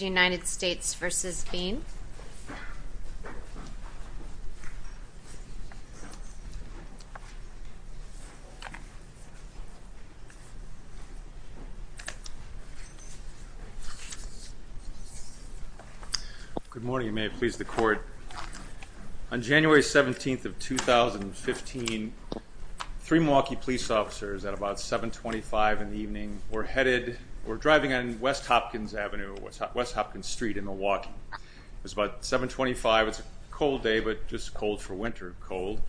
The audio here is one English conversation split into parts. United States v. Devon Bean Good morning and may it please the court. On January 17th of 2015, three Milwaukee police officers at about 725 in the evening were headed, were driving on West Hopkins Avenue, West Hopkins Street in Milwaukee. It was about 725, it's a cold day but just cold for winter, cold.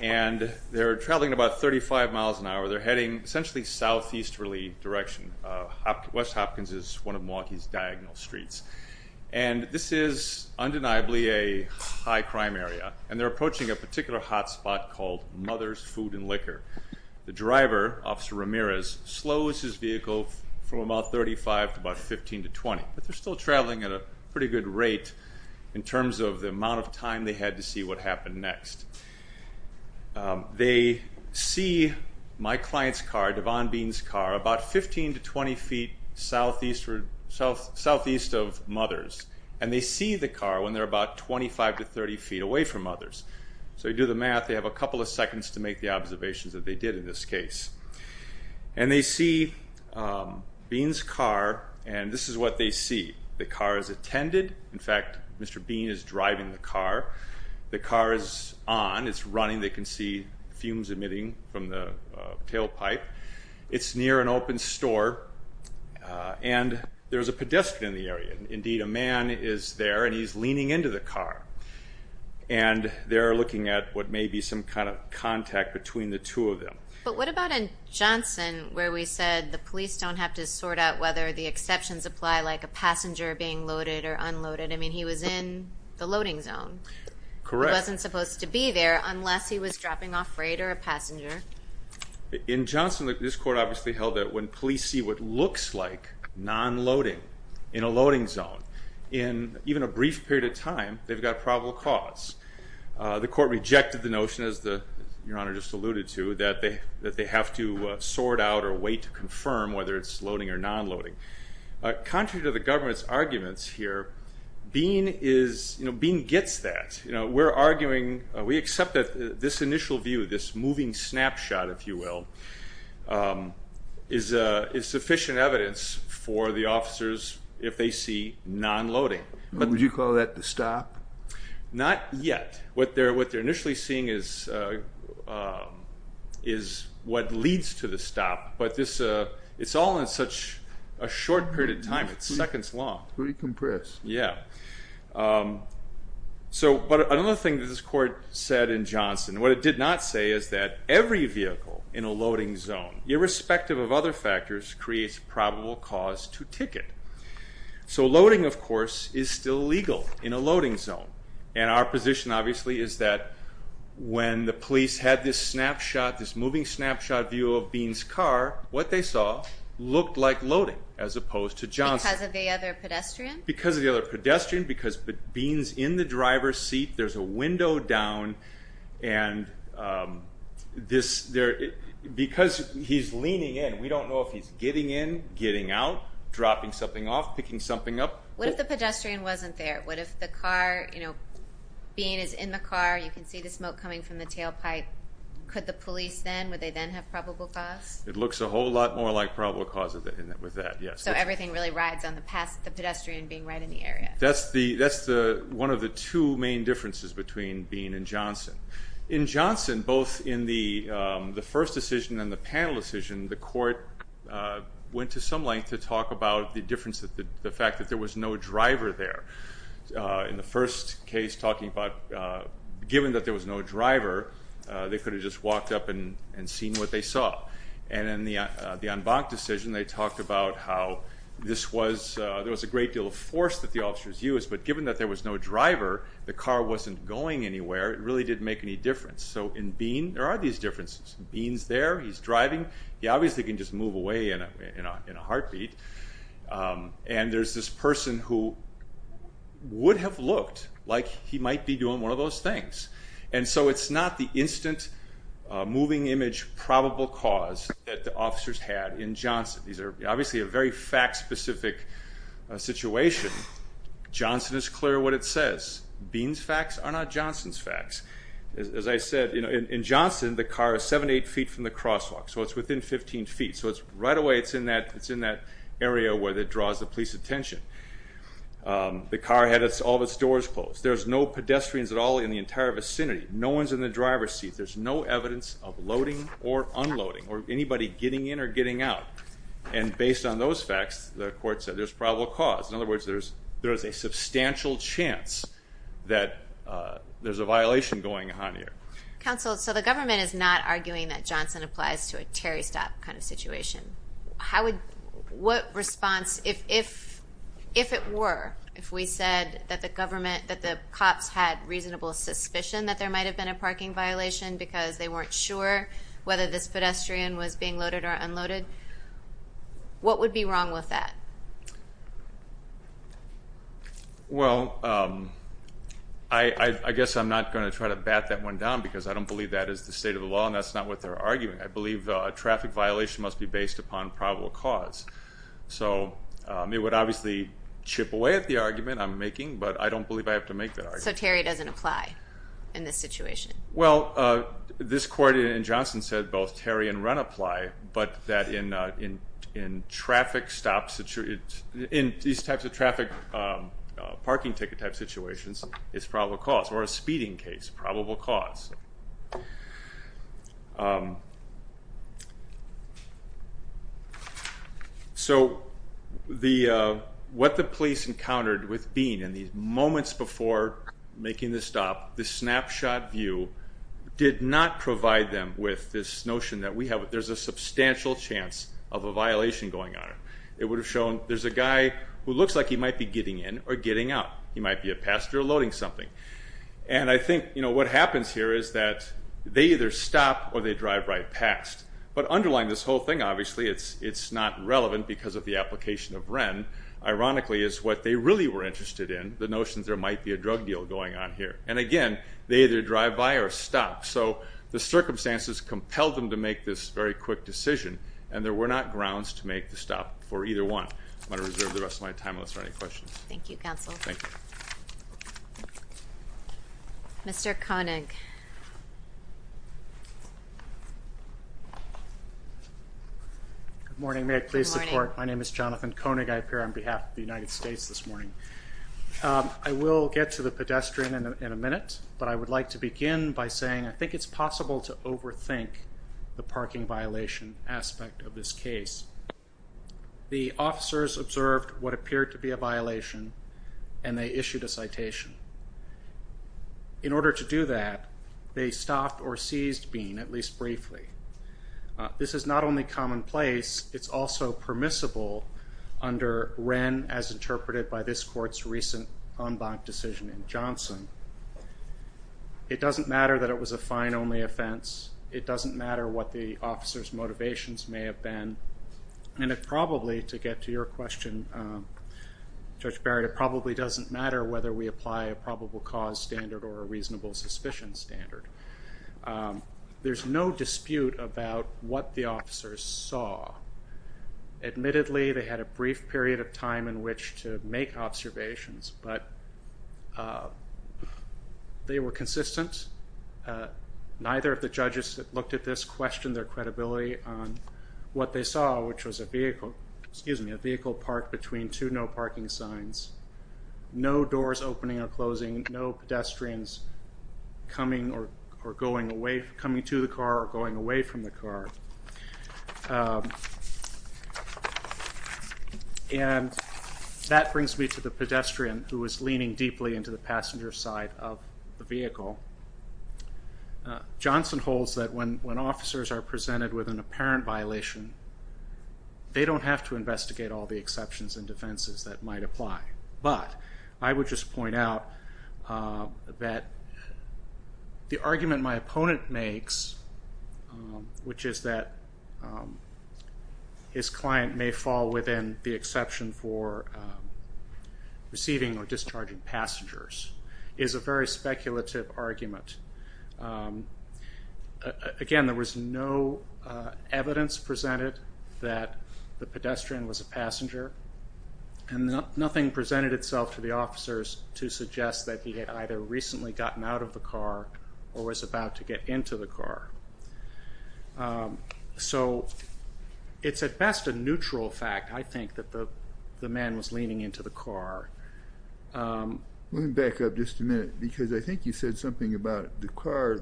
And they're traveling about 35 miles an hour, they're heading essentially southeasterly direction. West Hopkins is one of Milwaukee's diagonal streets. And this is undeniably a high crime area. And they're approaching a particular hot spot called Mother's Food and Liquor. The driver, Officer Ramirez, slows his vehicle from about 35 to about 15 to 20. But they're still traveling at a pretty good rate in terms of the amount of time they had to see what happened next. They see my client's car, Devon Bean's car, about 15 to 20 feet southeast of Mother's. And they see the car when they're about 25 to 30 feet away from Mother's. So you do the math, they have a couple of seconds to make the observations that they did in this case. And they see Bean's car and this is what they see. The car is attended, in fact Mr. Bean is driving the car. The car is on, it's running, they can see fumes emitting from the tailpipe. It's near an open store and there's a pedestrian in the area. Indeed a man is there and he's leaning into the car. And they're looking at what may be some kind of contact between the two of them. But what about in Johnson where we said the police don't have to sort out whether the exceptions apply, like a passenger being loaded or unloaded, I mean he was in the loading zone. Correct. He wasn't supposed to be there unless he was dropping off freight or a passenger. In Johnson this court obviously held that when police see what looks like non-loading in a loading zone, in even a brief period of time they've got a probable cause. The court rejected the notion, as Your Honor just alluded to, that they have to sort out or wait to confirm whether it's loading or non-loading. Contrary to the government's arguments here, Bean gets that. We're arguing, we accept that this initial view, this moving snapshot, if you will, is sufficient evidence for the officers if they see non-loading. Would you call that the stop? Not yet. What they're initially seeing is what leads to the stop. It's all in such a short period of time. It's seconds long. It's very compressed. Yeah. But another thing that this court said in Johnson, what it did not say is that every vehicle in a loading zone, irrespective of other factors, creates a probable cause to ticket. So loading, of course, is still legal in a loading zone. And our position, obviously, is that when the police had this snapshot, this moving snapshot view of Bean's car, what they saw looked like loading as opposed to Johnson. Because of the other pedestrian? Because of the other pedestrian, because Bean's in the driver's seat, there's a window down, and because he's leaning in, we don't know if he's getting in, getting out, dropping something off, picking something up. What if the pedestrian wasn't there? What if the car, you know, Bean is in the car, you can see the smoke coming from the tailpipe. Could the police then, would they then have probable cause? It looks a whole lot more like probable cause with that, yes. So everything really rides on the pedestrian being right in the area. That's one of the two main differences between Bean and Johnson. In Johnson, both in the first decision and the panel decision, the court went to some length to talk about the difference, the fact that there was no driver there. In the first case, talking about, given that there was no driver, they could have just walked up and seen what they saw. And in the en banc decision, they talked about how this was, there was a great deal of force that the officers used, but given that there was no driver, the car wasn't going anywhere, it really didn't make any difference. So in Bean, there are these differences. Bean's there, he's driving, he obviously can just move away in a heartbeat, and there's this person who would have looked like he might be doing one of those things. And so it's not the instant moving image probable cause that the officers had in Johnson. These are obviously a very fact-specific situation. Johnson is clear what it says. Bean's facts are not Johnson's facts. As I said, in Johnson, the car is 7 to 8 feet from the crosswalk, so it's within 15 feet. So right away it's in that area where it draws the police attention. The car had all of its doors closed. There's no pedestrians at all in the entire vicinity. No one's in the driver's seat. There's no evidence of loading or unloading or anybody getting in or getting out. And based on those facts, the court said there's probable cause. In other words, there is a substantial chance that there's a violation going on here. Counsel, so the government is not arguing that Johnson applies to a Terry stop kind of situation. What response, if it were, if we said that the cops had reasonable suspicion that there might have been a parking violation because they weren't sure whether this pedestrian was being loaded or unloaded, what would be wrong with that? Well, I guess I'm not going to try to bat that one down because I don't believe that is the state of the law, and that's not what they're arguing. I believe a traffic violation must be based upon probable cause. So it would obviously chip away at the argument I'm making, but I don't believe I have to make that argument. So Terry doesn't apply in this situation? Well, this court in Johnson said both Terry and Run apply, but that in these types of traffic parking ticket type situations, it's probable cause, or a speeding case, probable cause. So what the police encountered with Bean in the moments before making the stop, the snapshot view did not provide them with this notion that we have, there's a substantial chance of a violation going on. It would have shown there's a guy who looks like he might be getting in or getting out. He might be a passenger loading something. And I think what happens here is that they either stop or they drive right past. But underlying this whole thing, obviously, it's not relevant because of the application of Wren. Ironically, it's what they really were interested in, the notion that there might be a drug deal going on here. And again, they either drive by or stop. So the circumstances compelled them to make this very quick decision, and there were not grounds to make the stop for either one. I'm going to reserve the rest of my time unless there are any questions. Thank you, counsel. Thank you. Mr. Koenig. Good morning. May I please support? My name is Jonathan Koenig. I appear on behalf of the United States this morning. I will get to the pedestrian in a minute, but I would like to begin by saying I think it's possible to overthink the parking violation aspect of this case. The officers observed what appeared to be a violation, and they issued a citation. In order to do that, they stopped or seized Bean, at least briefly. This is not only commonplace, it's also permissible under Wren, as interpreted by this court's recent en banc decision in Johnson. It doesn't matter that it was a fine-only offense. It doesn't matter what the officers' motivations may have been. And it probably, to get to your question, Judge Barrett, it probably doesn't matter whether we apply a probable cause standard or a reasonable suspicion standard. There's no dispute about what the officers saw. Admittedly, they had a brief period of time in which to make observations, but they were consistent. Neither of the judges that looked at this questioned their credibility on what they saw, which was a vehicle parked between two no-parking signs, no doors opening or closing, no pedestrians coming to the car or going away from the car. And that brings me to the pedestrian who was leaning deeply into the passenger side of the vehicle. Johnson holds that when officers are presented with an apparent violation, they don't have to investigate all the exceptions and defenses that might apply. But I would just point out that the argument my opponent makes, which is that his client may fall within the exception for receiving or discharging passengers, is a very speculative argument. Again, there was no evidence presented that the pedestrian was a passenger, and nothing presented itself to the officers to suggest that he had either recently gotten out of the car or was about to get into the car. So it's at best a neutral fact, I think, that the man was leaning into the car. Let me back up just a minute, because I think you said something about the car,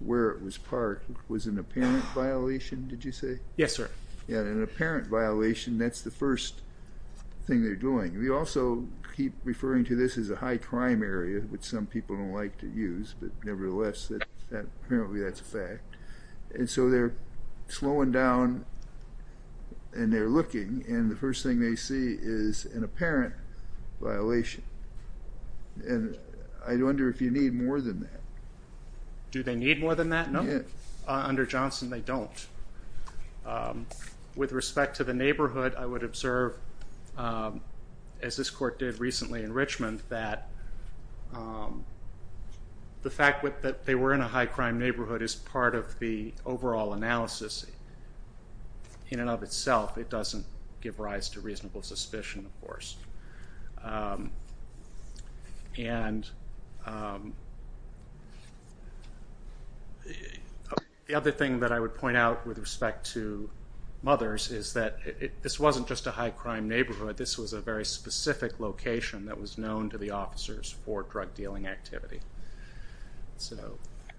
where it was parked, was an apparent violation, did you say? Yes, sir. Yeah, an apparent violation. That's the first thing they're doing. We also keep referring to this as a high crime area, which some people don't like to use, but nevertheless, apparently that's a fact. And so they're slowing down and they're looking, and the first thing they see is an apparent violation. And I wonder if you need more than that. Do they need more than that? No. Under Johnson, they don't. With respect to the neighborhood, I would observe, as this court did recently in Richmond, that the fact that they were in a high crime neighborhood is part of the overall analysis in and of itself. It doesn't give rise to reasonable suspicion, of course. And the other thing that I would point out with respect to Mothers is that this wasn't just a high crime neighborhood. This was a very specific location that was known to the officers for drug dealing activity. So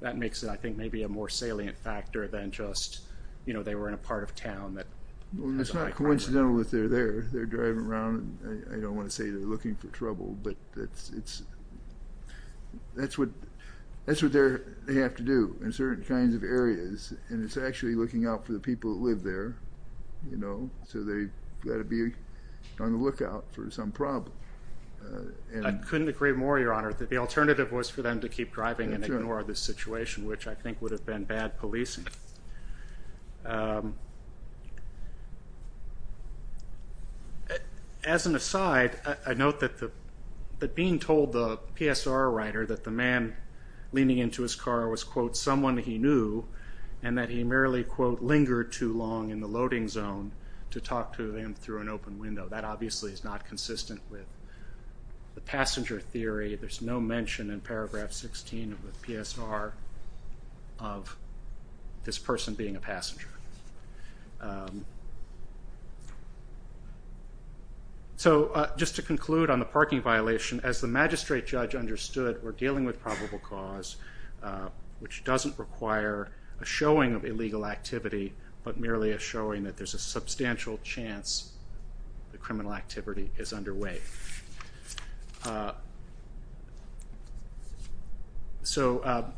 that makes it, I think, maybe a more salient factor than just, you know, they were in a part of town. It's not coincidental that they're there. They're driving around, and I don't want to say they're looking for trouble, but that's what they have to do in certain kinds of areas, and it's actually looking out for the people that live there, you know, so they've got to be on the lookout for some problem. I couldn't agree more, Your Honor, that the alternative was for them to keep driving and ignore the situation, which I think would have been bad policing. As an aside, I note that being told the PSR writer that the man leaning into his car was, quote, someone he knew and that he merely, quote, lingered too long in the loading zone to talk to him through an open window. That obviously is not consistent with the passenger theory. There's no mention in paragraph 16 of the PSR of this person being a passenger. So just to conclude on the parking violation, as the magistrate judge understood, we're dealing with probable cause, which doesn't require a showing of illegal activity, but merely a showing that there's a substantial chance that criminal activity is underway. So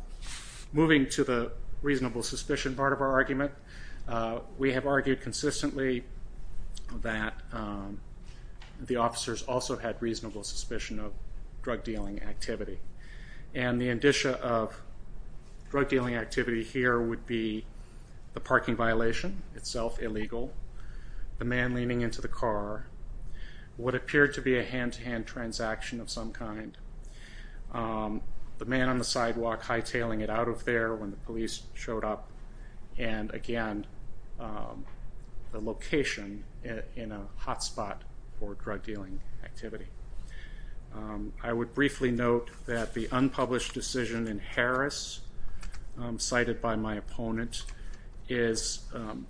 moving to the reasonable suspicion part of our argument, we have argued consistently that the officers also had reasonable suspicion of drug-dealing activity, and the indicia of drug-dealing activity here would be the parking violation itself illegal, the man leaning into the car, what appeared to be a hand-to-hand transaction of some kind, the man on the sidewalk hightailing it out of there when the police showed up, and again, the location in a hotspot for drug-dealing activity. I would briefly note that the unpublished decision in Harris, cited by my opponent, is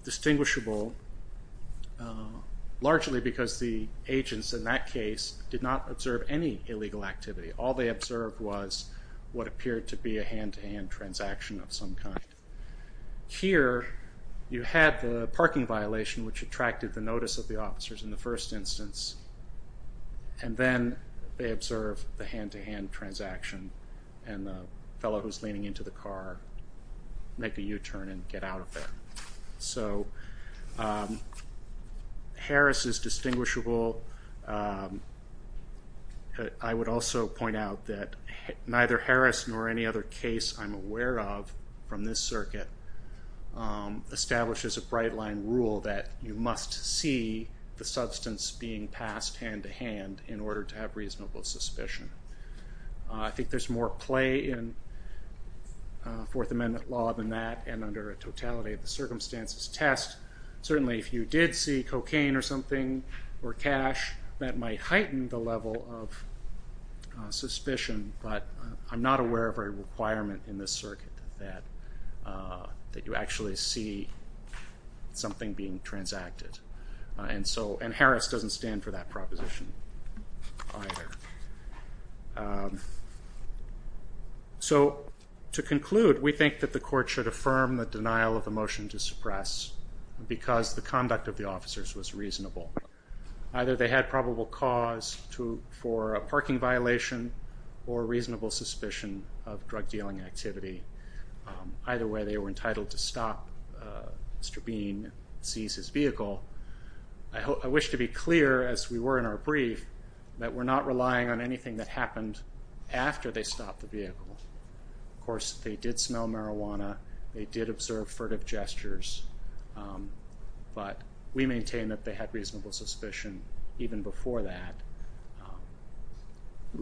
distinguishable largely because the agents in that case did not observe any illegal activity. All they observed was what appeared to be a hand-to-hand transaction of some kind. Here, you had the parking violation, which attracted the notice of the officers in the first instance, and then they observed the hand-to-hand transaction, and the fellow who's leaning into the car make a U-turn and get out of there. So Harris is distinguishable. I would also point out that neither Harris nor any other case I'm aware of from this circuit establishes a bright-line rule that you must see the substance being passed hand-to-hand in order to have reasonable suspicion. I think there's more play in Fourth Amendment law than that, and under a totality-of-circumstances test. Certainly if you did see cocaine or something, or cash, that might heighten the level of suspicion, but I'm not aware of a requirement in this circuit that you actually see something being transacted. And Harris doesn't stand for that proposition either. So to conclude, we think that the court should affirm the denial of the motion to suppress because the conduct of the officers was reasonable. Either they had probable cause for a parking violation or reasonable suspicion of drug-dealing activity. Either way, they were entitled to stop Mr. Bean and seize his vehicle. I wish to be clear, as we were in our brief, that we're not relying on anything that happened after they stopped the vehicle. Of course, they did smell marijuana. They did observe furtive gestures. But we maintain that they had reasonable suspicion even before that.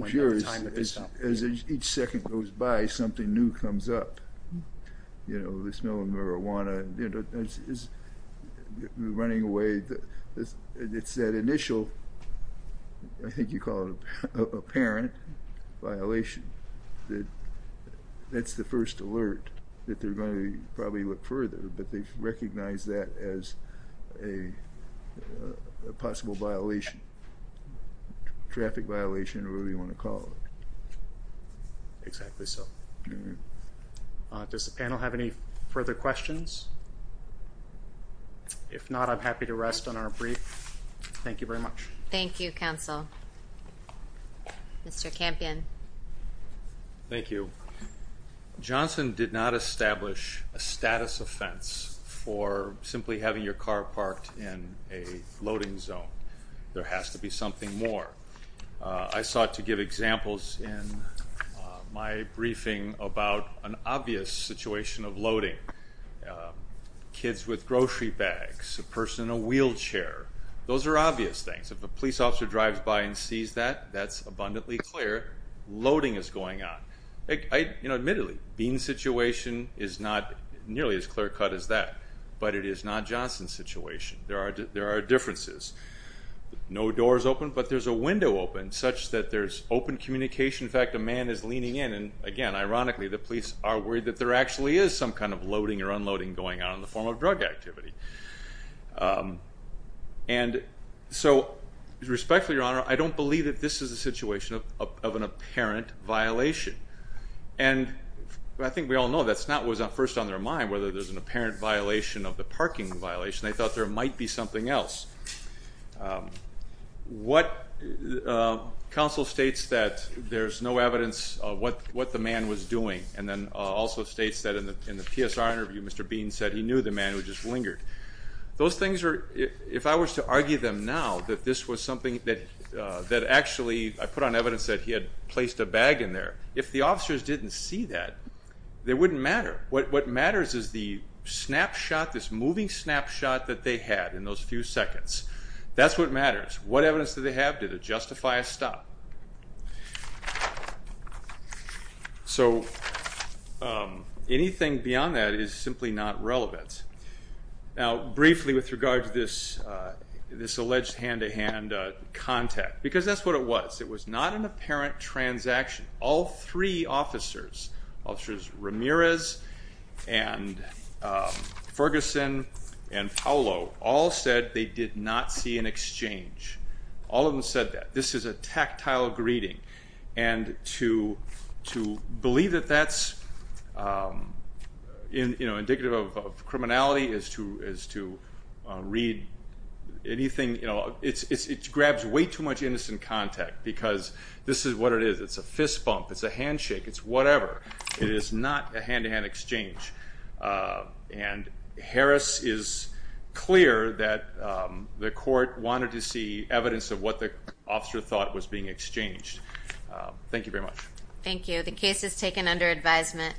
As each second goes by, something new comes up. You know, the smell of marijuana is running away. It's that initial, I think you call it apparent, violation. That's the first alert that they're going to probably look further, but they've recognized that as a possible violation, traffic violation or whatever you want to call it. Exactly so. Does the panel have any further questions? If not, I'm happy to rest on our brief. Thank you very much. Thank you, counsel. Mr. Campion. Thank you. Johnson did not establish a status offense for simply having your car parked in a loading zone. There has to be something more. I sought to give examples in my briefing about an obvious situation of loading, kids with grocery bags, a person in a wheelchair. Those are obvious things. If a police officer drives by and sees that, that's abundantly clear. Loading is going on. Admittedly, Bean's situation is not nearly as clear cut as that, but it is not Johnson's situation. There are differences. No door is open, but there's a window open such that there's open communication. In fact, a man is leaning in, and again, ironically, the police are worried that there actually is some kind of loading or unloading going on in the form of drug activity. And so, respectfully, Your Honor, I don't believe that this is a situation of an apparent violation. And I think we all know that's not what was first on their mind, whether there's an apparent violation of the parking violation. They thought there might be something else. What counsel states that there's no evidence of what the man was doing, and then also states that in the PSR interview, Mr. Bean said he knew the man who just lingered. Those things are, if I was to argue them now that this was something that actually, I put on evidence that he had placed a bag in there. If the officers didn't see that, it wouldn't matter. What matters is the snapshot, this moving snapshot that they had in those few seconds. That's what matters. What evidence did they have? Did it justify a stop? So anything beyond that is simply not relevant. Now, briefly with regard to this alleged hand-to-hand contact, because that's what it was. It was not an apparent transaction. All three officers, Officers Ramirez and Ferguson and Paolo, all said they did not see an exchange. All of them said that. This is a tactile greeting. And to believe that that's indicative of criminality is to read anything. It grabs way too much innocent contact because this is what it is. It's a fist bump. It's a handshake. It's whatever. It is not a hand-to-hand exchange. And Harris is clear that the court wanted to see evidence of what the officer thought was being exchanged. Thank you very much. Thank you. The case is taken under advisement.